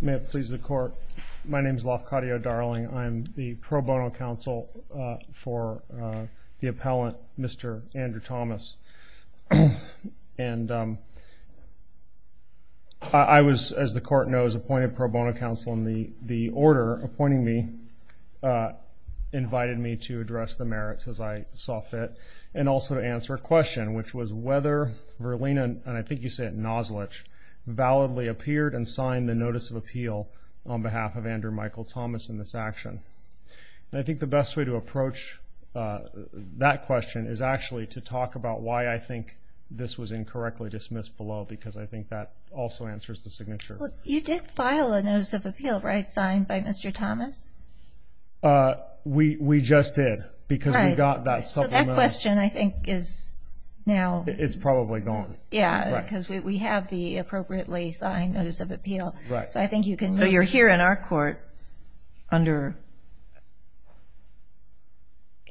May it please the court, my name is Lafcadio Darling, I'm the pro bono counsel for the appellant Mr. Andrew Thomas. And I was, as the court knows, appointed pro bono counsel and the order appointing me invited me to address the merits as I saw fit and also to answer a question, which was whether Vrlina, and I think you said Nozlic, validly appeared and signed the Notice of Appeal on behalf of Andrew Michael Thomas in this action. And I think the best way to approach that question is actually to talk about why I think this was incorrectly dismissed below because I think that also answers the signature. You did file a Notice of Appeal, right, signed by Mr. Thomas? We just did because we got that supplement. So that question I think is now... It's probably gone. Yeah, because we have the appropriately signed Notice of Appeal. So I think you can... So you're here in our court under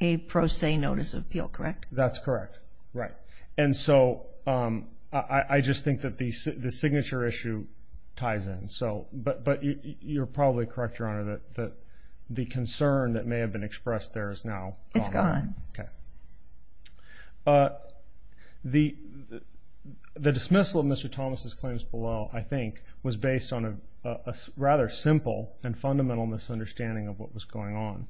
a pro se Notice of Appeal, correct? That's correct. Right. And so I just think that the signature issue ties in. But you're probably correct, Your Honor, that the concern that may have been expressed there is now... It's gone. Okay. The dismissal of Mr. Thomas' claims below, I think, was based on a rather simple and fundamental misunderstanding of what was going on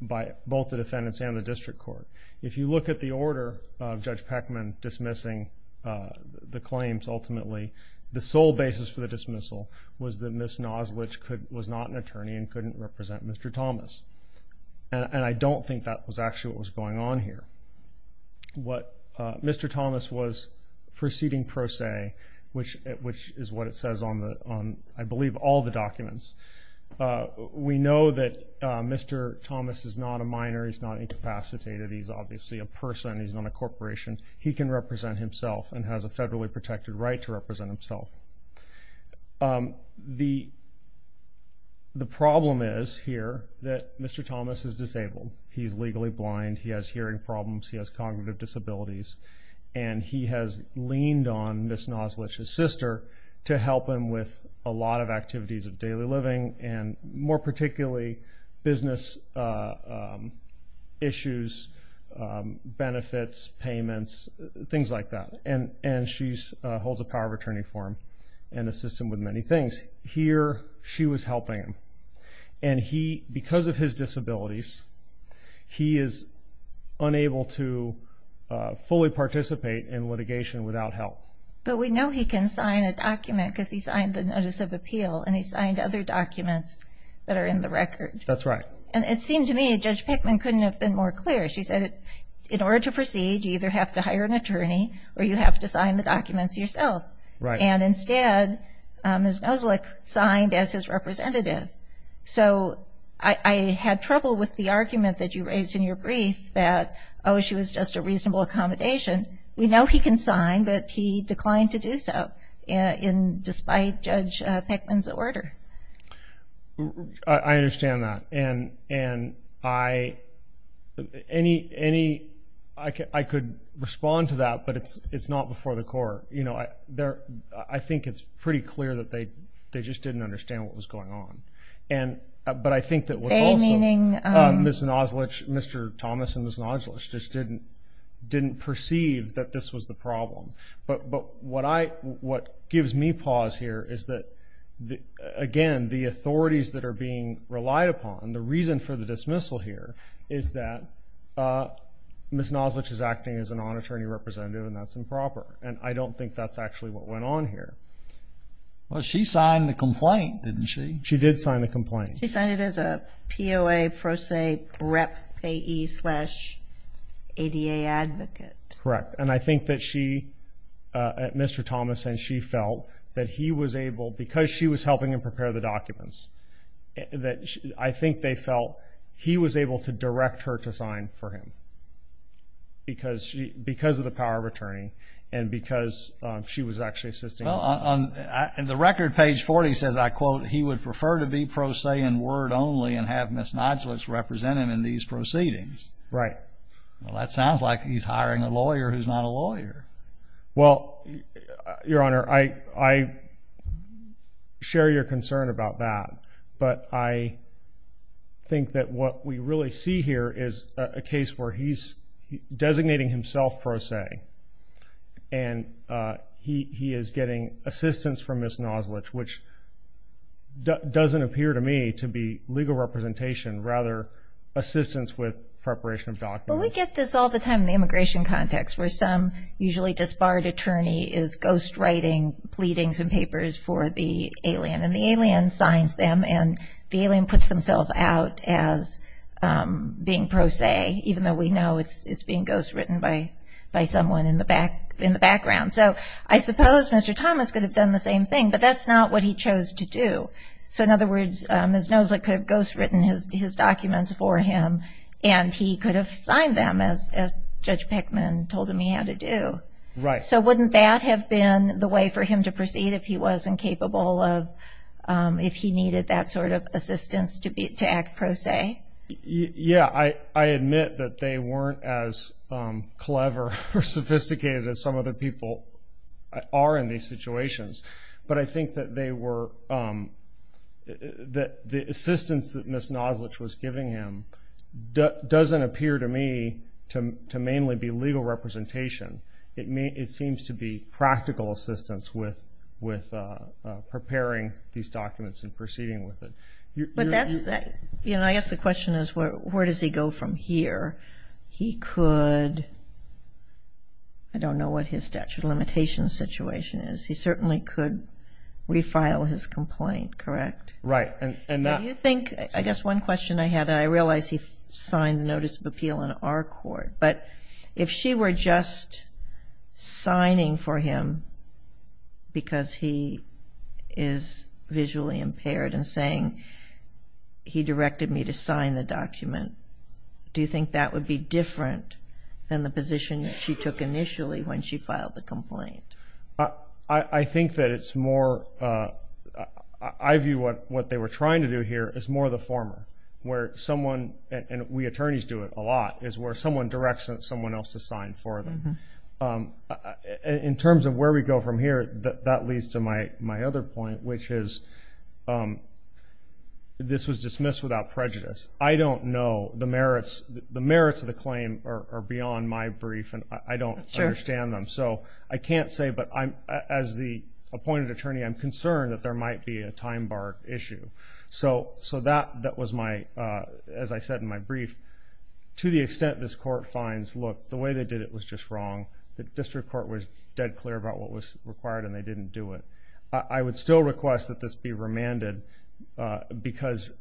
by both the defendants and the district court. If you look at the order of Judge Peckman dismissing the claims, ultimately, the sole basis for the dismissal was that Ms. Nozlic was not an attorney and couldn't represent Mr. Thomas. And I don't think that was actually what was going on here. Mr. Thomas was proceeding pro se, which is what it says on, I believe, all the documents. We know that Mr. Thomas is not a minor. He's not incapacitated. He's obviously a person. He's not a corporation. He can represent himself and has a federally protected right to represent himself. The problem is here that Mr. Thomas is disabled. He's legally blind. He has hearing problems. He has cognitive disabilities. And he has leaned on Ms. Nozlic's sister to help him with a lot of activities of daily living and, more particularly, business issues, benefits, payments, things like that. And she holds a power of attorney for him and assists him with many things. Here, she was helping him. And because of his disabilities, he is unable to fully participate in litigation without help. But we know he can sign a document because he signed the Notice of Appeal. And he signed other documents that are in the record. That's right. And it seemed to me Judge Peckman couldn't have been more clear. She said, in order to proceed, you either have to hire an attorney or you have to sign the documents yourself. Right. And instead, Ms. Nozlic signed as his representative. So I had trouble with the argument that you raised in your brief that, oh, she was just a reasonable accommodation. We know he can sign, but he declined to do so despite Judge Peckman's order. I understand that. And I could respond to that, but it's not before the court. I think it's pretty clear that they just didn't understand what was going on. But I think that also Ms. Nozlic, Mr. Thomas, and Ms. Nozlic just didn't perceive that this was the problem. But what gives me pause here is that, again, the authorities that are being relied upon, the reason for the dismissal here, is that Ms. Nozlic is acting as an on-attorney representative, and that's improper. And I don't think that's actually what went on here. Well, she signed the complaint, didn't she? She did sign the complaint. She signed it as a POA pro se rep AE slash ADA advocate. Correct. And I think that she, Mr. Thomas and she felt that he was able, because she was helping him prepare the documents, that I think they felt he was able to direct her to sign for him because of the power of attorney and because she was actually assisting him. And the record, page 40, says, I quote, he would prefer to be pro se in word only and have Ms. Nozlic represented in these proceedings. Right. Well, that sounds like he's hiring a lawyer who's not a lawyer. Well, Your Honor, I share your concern about that, but I think that what we really see here is a case where he's designating himself pro se, and he is getting assistance from Ms. Nozlic, which doesn't appear to me to be legal representation, rather assistance with preparation of documents. Well, we get this all the time in the immigration context where some usually disbarred attorney is ghostwriting, pleading some papers for the alien, and the alien signs them, and the alien puts themselves out as being pro se, even though we know it's being ghostwritten by someone in the background. So I suppose Mr. Thomas could have done the same thing, but that's not what he chose to do. So in other words, Ms. Nozlic could have ghostwritten his documents for him, and he could have signed them as Judge Pickman told him he had to do. Right. So wouldn't that have been the way for him to proceed if he was incapable of, if he needed that sort of assistance to act pro se? Yeah. I admit that they weren't as clever or sophisticated as some of the people are in these situations, but I think that they were, that the assistance that Ms. Nozlic was giving him doesn't appear to me to mainly be legal representation. It seems to be practical assistance with preparing these documents and proceeding with it. But that's, you know, I guess the question is where does he go from here? He could, I don't know what his statute of limitations situation is. He certainly could refile his complaint, correct? Right. Do you think, I guess one question I had, I realize he signed the Notice of Appeal in our court, but if she were just signing for him because he is visually impaired and saying he directed me to sign the document, do you think that would be different than the position that she took initially when she filed the complaint? I think that it's more, I view what they were trying to do here as more of the former, where someone, and we attorneys do it a lot, is where someone directs someone else to sign for them. In terms of where we go from here, that leads to my other point, which is this was dismissed without prejudice. I don't know the merits, the merits of the claim are beyond my brief and I don't understand them. So I can't say, but as the appointed attorney, I'm concerned that there might be a time bar issue. So that was my, as I said in my brief, to the extent this court finds, look, the way they did it was just wrong. The district court was dead clear about what was required and they didn't do it. I would still request that this be remanded because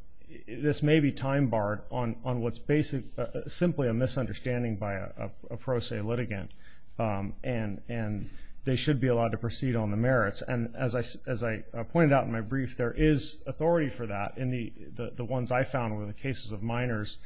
this may be time barred on what's basically simply a misunderstanding by a pro se litigant. And they should be allowed to proceed on the merits. And as I pointed out in my brief, there is authority for that. The ones I found were the cases of minors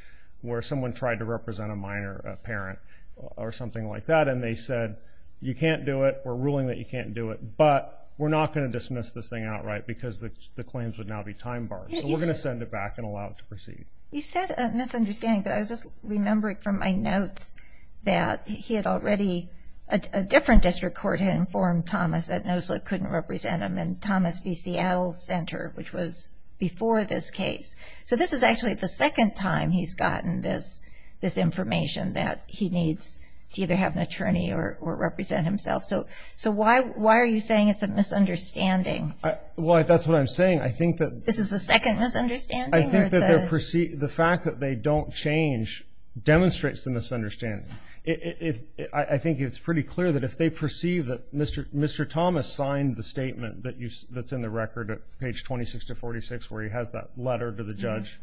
where someone tried to represent a minor parent or something like that and they said, you can't do it, we're ruling that you can't do it, but we're not going to dismiss this thing outright because the claims would now be time barred. So we're going to send it back and allow it to proceed. You said a misunderstanding, but I was just remembering from my notes that he had already, a different district court had informed Thomas that NOSLA couldn't represent him in Thomas v. Seattle Center, which was before this case. So this is actually the second time he's gotten this information that he needs to either have an attorney or represent himself. So why are you saying it's a misunderstanding? Well, that's what I'm saying. This is the second misunderstanding? I think that the fact that they don't change demonstrates the misunderstanding. I think it's pretty clear that if they perceive that Mr. Thomas signed the statement that's in the record at page 26-46 where he has that letter to the judge,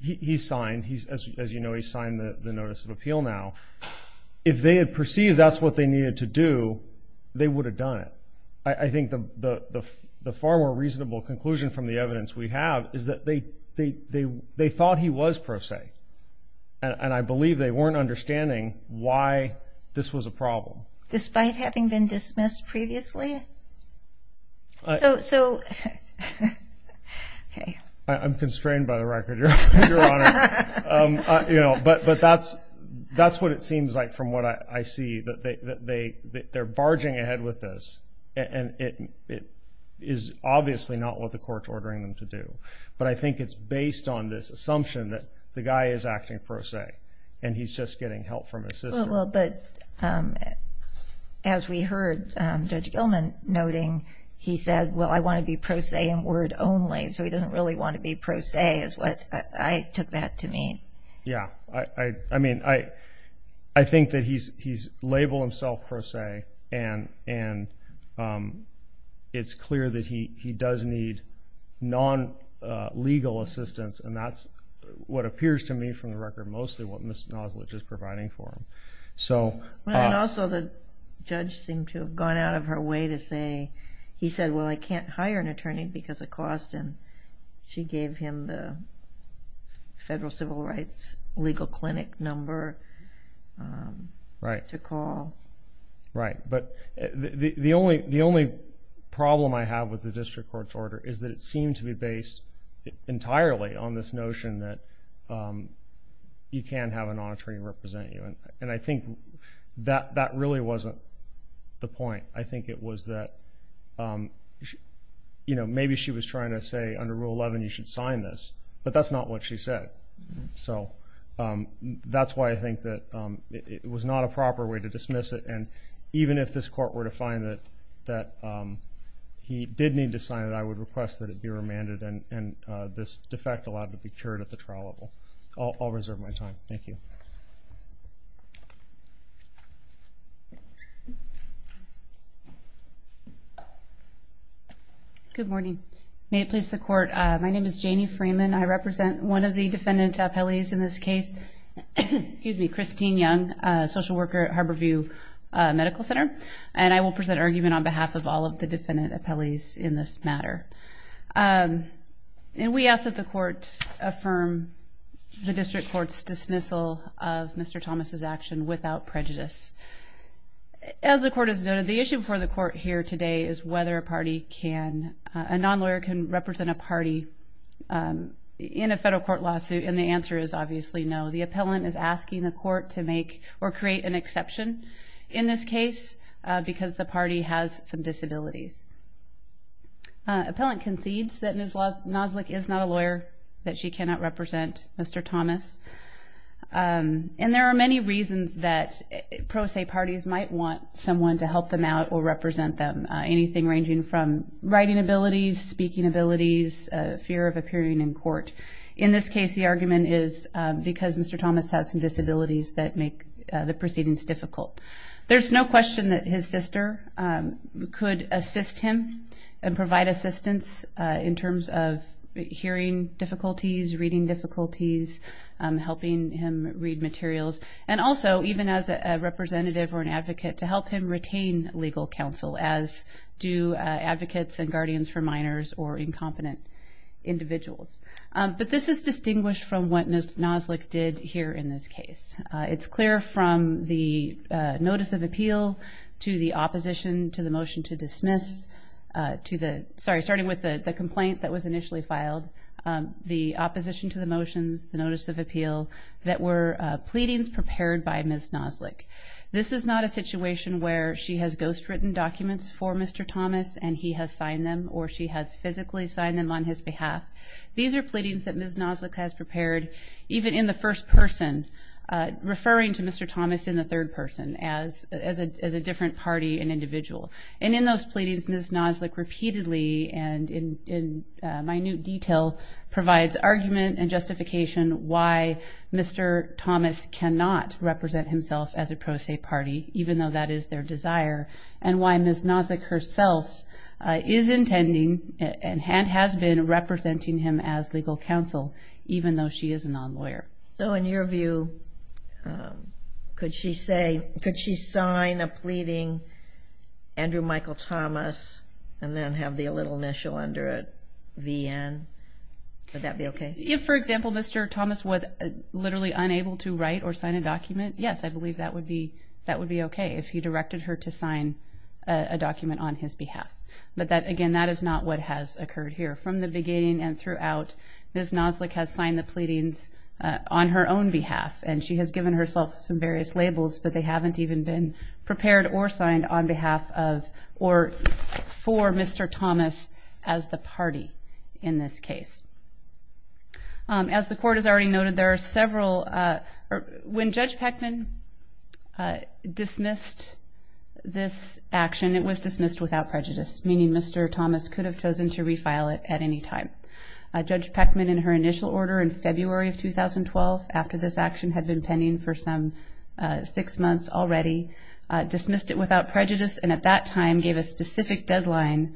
he signed, as you know, he signed the Notice of Appeal now, if they had perceived that's what they needed to do, they would have done it. I think the far more reasonable conclusion from the evidence we have is that they thought he was pro se. And I believe they weren't understanding why this was a problem. Despite having been dismissed previously? I'm constrained by the record, Your Honor. But that's what it seems like from what I see, that they're barging ahead with this, and it is obviously not what the court's ordering them to do. But I think it's based on this assumption that the guy is acting pro se, and he's just getting help from his sister. Well, but as we heard Judge Gilman noting, he said, well, I want to be pro se in word only, so he doesn't really want to be pro se, is what I took that to mean. Yeah, I mean, I think that he's labeled himself pro se, and it's clear that he does need non-legal assistance, and that's what appears to me from the record mostly what Ms. Noslich is providing for him. And also the judge seemed to have gone out of her way to say, he said, well, I can't hire an attorney because of cost, and she gave him the federal civil rights legal clinic number to call. with the district court's order is that it seemed to be based entirely on this notion that you can have an attorney represent you. And I think that really wasn't the point. I think it was that, you know, maybe she was trying to say, under Rule 11, you should sign this, but that's not what she said. So that's why I think that it was not a proper way to dismiss it, and even if this court were to find that he did need to sign it, I would request that it be remanded, and this defect allowed to be cured at the trial level. I'll reserve my time. Thank you. Good morning. May it please the Court. My name is Janie Freeman. I represent one of the defendant appellees in this case, Christine Young, social worker at Harborview Medical Center, and I will present argument on behalf of all of the defendant appellees in this matter. And we ask that the Court affirm the district court's dismissal of Mr. Thomas's action without prejudice. As the Court has noted, the issue before the Court here today is whether a party can... a non-lawyer can represent a party in a federal court lawsuit, and the answer is obviously no. The appellant is asking the Court to make or create an exception in this case, because the party has some disabilities. Appellant concedes that Ms. Noslik is not a lawyer, that she cannot represent Mr. Thomas. And there are many reasons that pro se parties might want someone to help them out or represent them, anything ranging from writing abilities, speaking abilities, fear of appearing in court. In this case, the argument is because Mr. Thomas has some disabilities that make the proceedings difficult. There's no question that his sister could assist him and provide assistance in terms of hearing difficulties, reading difficulties, helping him read materials, and also even as a representative or an advocate to help him retain legal counsel, as do advocates and guardians for minors or incompetent individuals. But this is distinguished from what Ms. Noslik did here in this case. It's clear from the notice of appeal to the opposition to the motion to dismiss, sorry, starting with the complaint that was initially filed, the opposition to the motions, the notice of appeal, that were pleadings prepared by Ms. Noslik. This is not a situation where she has ghostwritten documents for Mr. Thomas and he has signed them, or she has physically signed them on his behalf. These are pleadings that Ms. Noslik has prepared, even in the first person, referring to Mr. Thomas in the third person as a different party and individual. And in those pleadings, Ms. Noslik repeatedly and in minute detail provides argument and justification why Mr. Thomas cannot represent himself as a pro se party, even though that is their desire, and why Ms. Noslik herself is intending and has been representing him as legal counsel, even though she is a non-lawyer. So in your view, could she say, could she sign a pleading, Andrew Michael Thomas, and then have the little initial under it, VN? Would that be okay? If, for example, Mr. Thomas was literally unable to write or sign a document, yes, I believe that would be okay if he directed her to sign a document on his behalf. But again, that is not what has occurred here. From the beginning and throughout, Ms. Noslik has signed the pleadings on her own behalf, and she has given herself some various labels, but they haven't even been prepared or signed on behalf of or for Mr. Thomas as the party in this case. As the Court has already noted, there are several... When Judge Peckman dismissed this action, it was dismissed without prejudice, meaning Mr. Thomas could have chosen to refile it at any time. Judge Peckman, in her initial order in February of 2012, after this action had been pending for some six months already, dismissed it without prejudice and at that time gave a specific deadline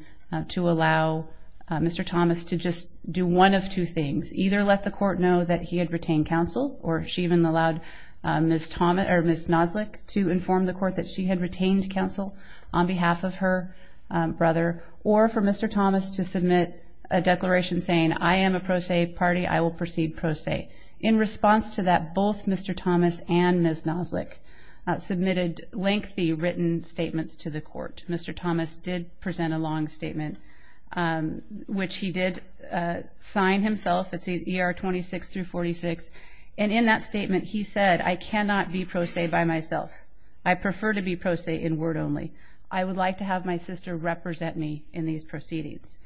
to allow Mr. Thomas to just do one of two things. Either let the Court know that he had retained counsel, or she even allowed Ms. Noslik to inform the Court that she had retained counsel on behalf of her brother, or for Mr. Thomas to submit a declaration saying, I am a pro se party, I will proceed pro se. In response to that, both Mr. Thomas and Ms. Noslik submitted lengthy written statements to the Court. Mr. Thomas did present a long statement, which he did sign himself, it's ER 26-46, and in that statement he said, I cannot be pro se by myself. I prefer to be pro se in word only. I would like to have my sister represent me in these proceedings.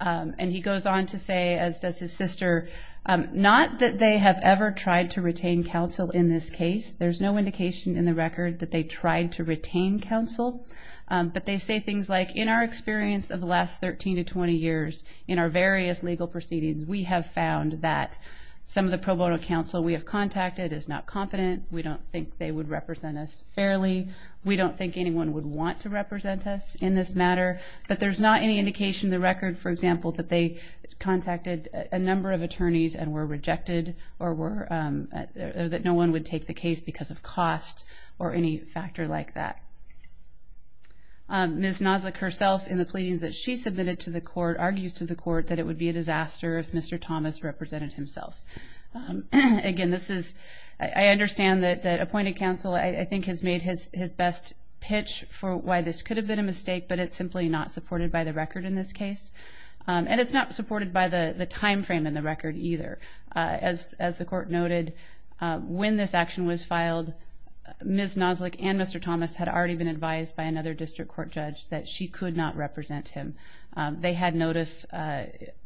And he goes on to say, as does his sister, not that they have ever tried to retain counsel in this case, there's no indication in the record that they tried to retain counsel, but they say things like, in our experience of the last 13 to 20 years, in our various legal proceedings, we have found that some of the pro bono counsel we have contacted is not competent, we don't think they would represent us fairly, we don't think anyone would want to represent us in this matter, but there's not any indication in the record, for example, that they contacted a number of attorneys and were rejected, or that no one would take the case because of cost, or any factor like that. Ms. Noslik herself, in the pleadings that she submitted to the court, argues to the court that it would be a disaster if Mr. Thomas represented himself. Again, I understand that appointed counsel has made his best pitch for why this could have been a mistake, but it's simply not supported by the record in this case, and it's not supported by the time frame in the record either. As the court noted, when this action was filed, Ms. Noslik and Mr. Thomas had already been advised by another district court judge that she could not represent him. They had notice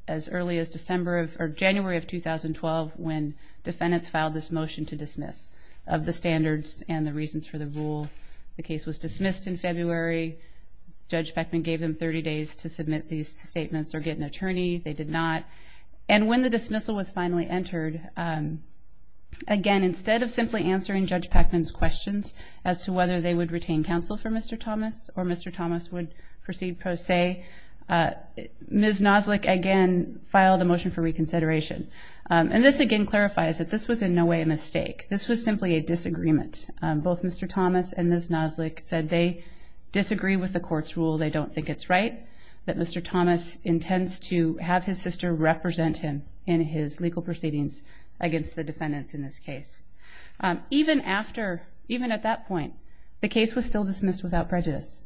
as early as January of 2012, when defendants filed this motion to dismiss of the standards and the reasons for the rule. The case was dismissed in February, Judge Peckman gave them 30 days to submit these statements or get an attorney, they did not, and when the dismissal was finally entered, again, instead of simply answering Judge Peckman's questions as to whether they would retain counsel for Mr. Thomas or Mr. Thomas would proceed pro se, Ms. Noslik again filed a motion for reconsideration. And this again clarifies that this was in no way a mistake. This was simply a disagreement. Both Mr. Thomas and Ms. Noslik said they disagree with the court's rule, they don't think it's right, that Mr. Thomas intends to have his sister represent him in his legal proceedings against the defendants in this case. Even after, even at that point, the case was still dismissed without prejudice.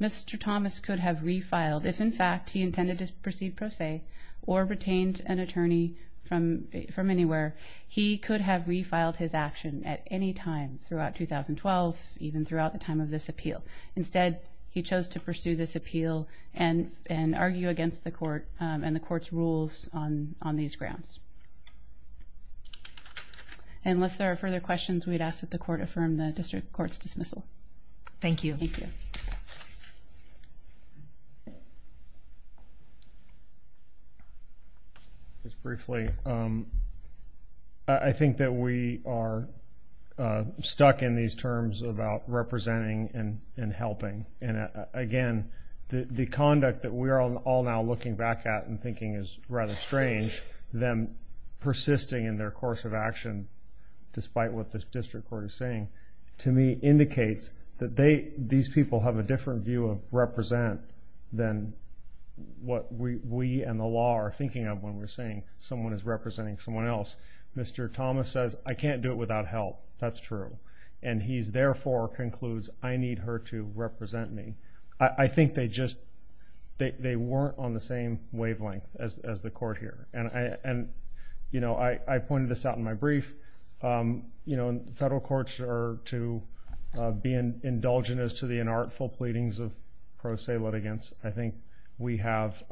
Mr. Thomas could have refiled if, in fact, he intended to proceed pro se or retained an attorney from anywhere, he could have refiled his action at any time throughout 2012, even throughout the time of this appeal. Instead, he chose to pursue this appeal and argue against the court and the court's rules on these grounds. And unless there are further questions, we'd ask that the court affirm the district court's dismissal. Thank you. Just briefly, I think that we are stuck in these terms about representing and helping. And again, the conduct that we are all now looking back at and thinking is rather strange, them persisting in their course of action, despite what the district court is saying, to me indicates that these people have a different view of represent than what we and the law are thinking of when we're saying someone is representing someone else. Mr. Thomas says, I can't do it without help, that's true. And he therefore concludes, I need her to represent me. I think they weren't on the same wavelength as the court here. I pointed this out in my brief. Federal courts are to be indulgent as to the inartful pleadings of pro se litigants. I think we have,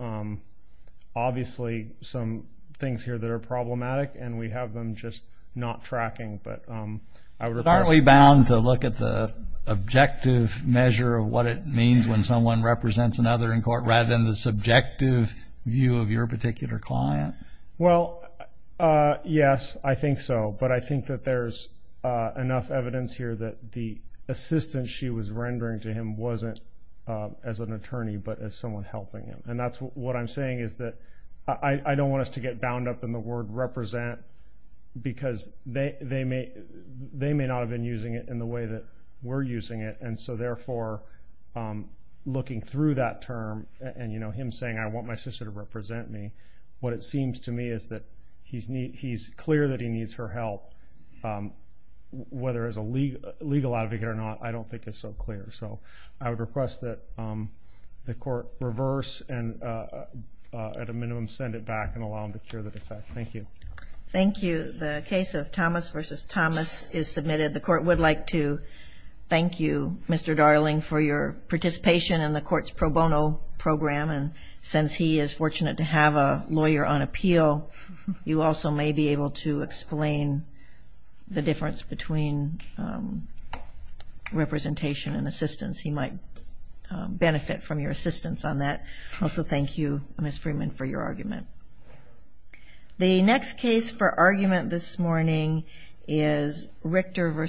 obviously, some things here that are problematic and we have them just not tracking. Aren't we bound to look at the objective measure of what it means when someone represents another in court rather than the subjective view of your particular client? Yes, I think so. But I think that there's enough evidence here that the assistance she was rendering to him wasn't as an attorney but as someone helping him. And what I'm saying is that I don't want us to get bound up in the word represent because they may not have been using it in the way that we're using it. And so therefore, looking through that term and him saying, I want my sister to represent me, what it seems to me is that he's clear that he needs her help, whether as a legal advocate or not, I don't think it's so clear. So I would request that the Court reverse and at a minimum send it back and allow him to cure the defect. Thank you. Thank you. The case of Thomas v. Thomas is submitted. The Court would like to thank you, Mr. Darling, for your participation in the Court's pro bono program. And since he is fortunate to have a lawyer on appeal, you also may be able to explain the difference between representation and assistance. He might benefit from your assistance on that. Also, thank you, Ms. Freeman, for your argument. The next case for argument this morning is Richter v. Thomas.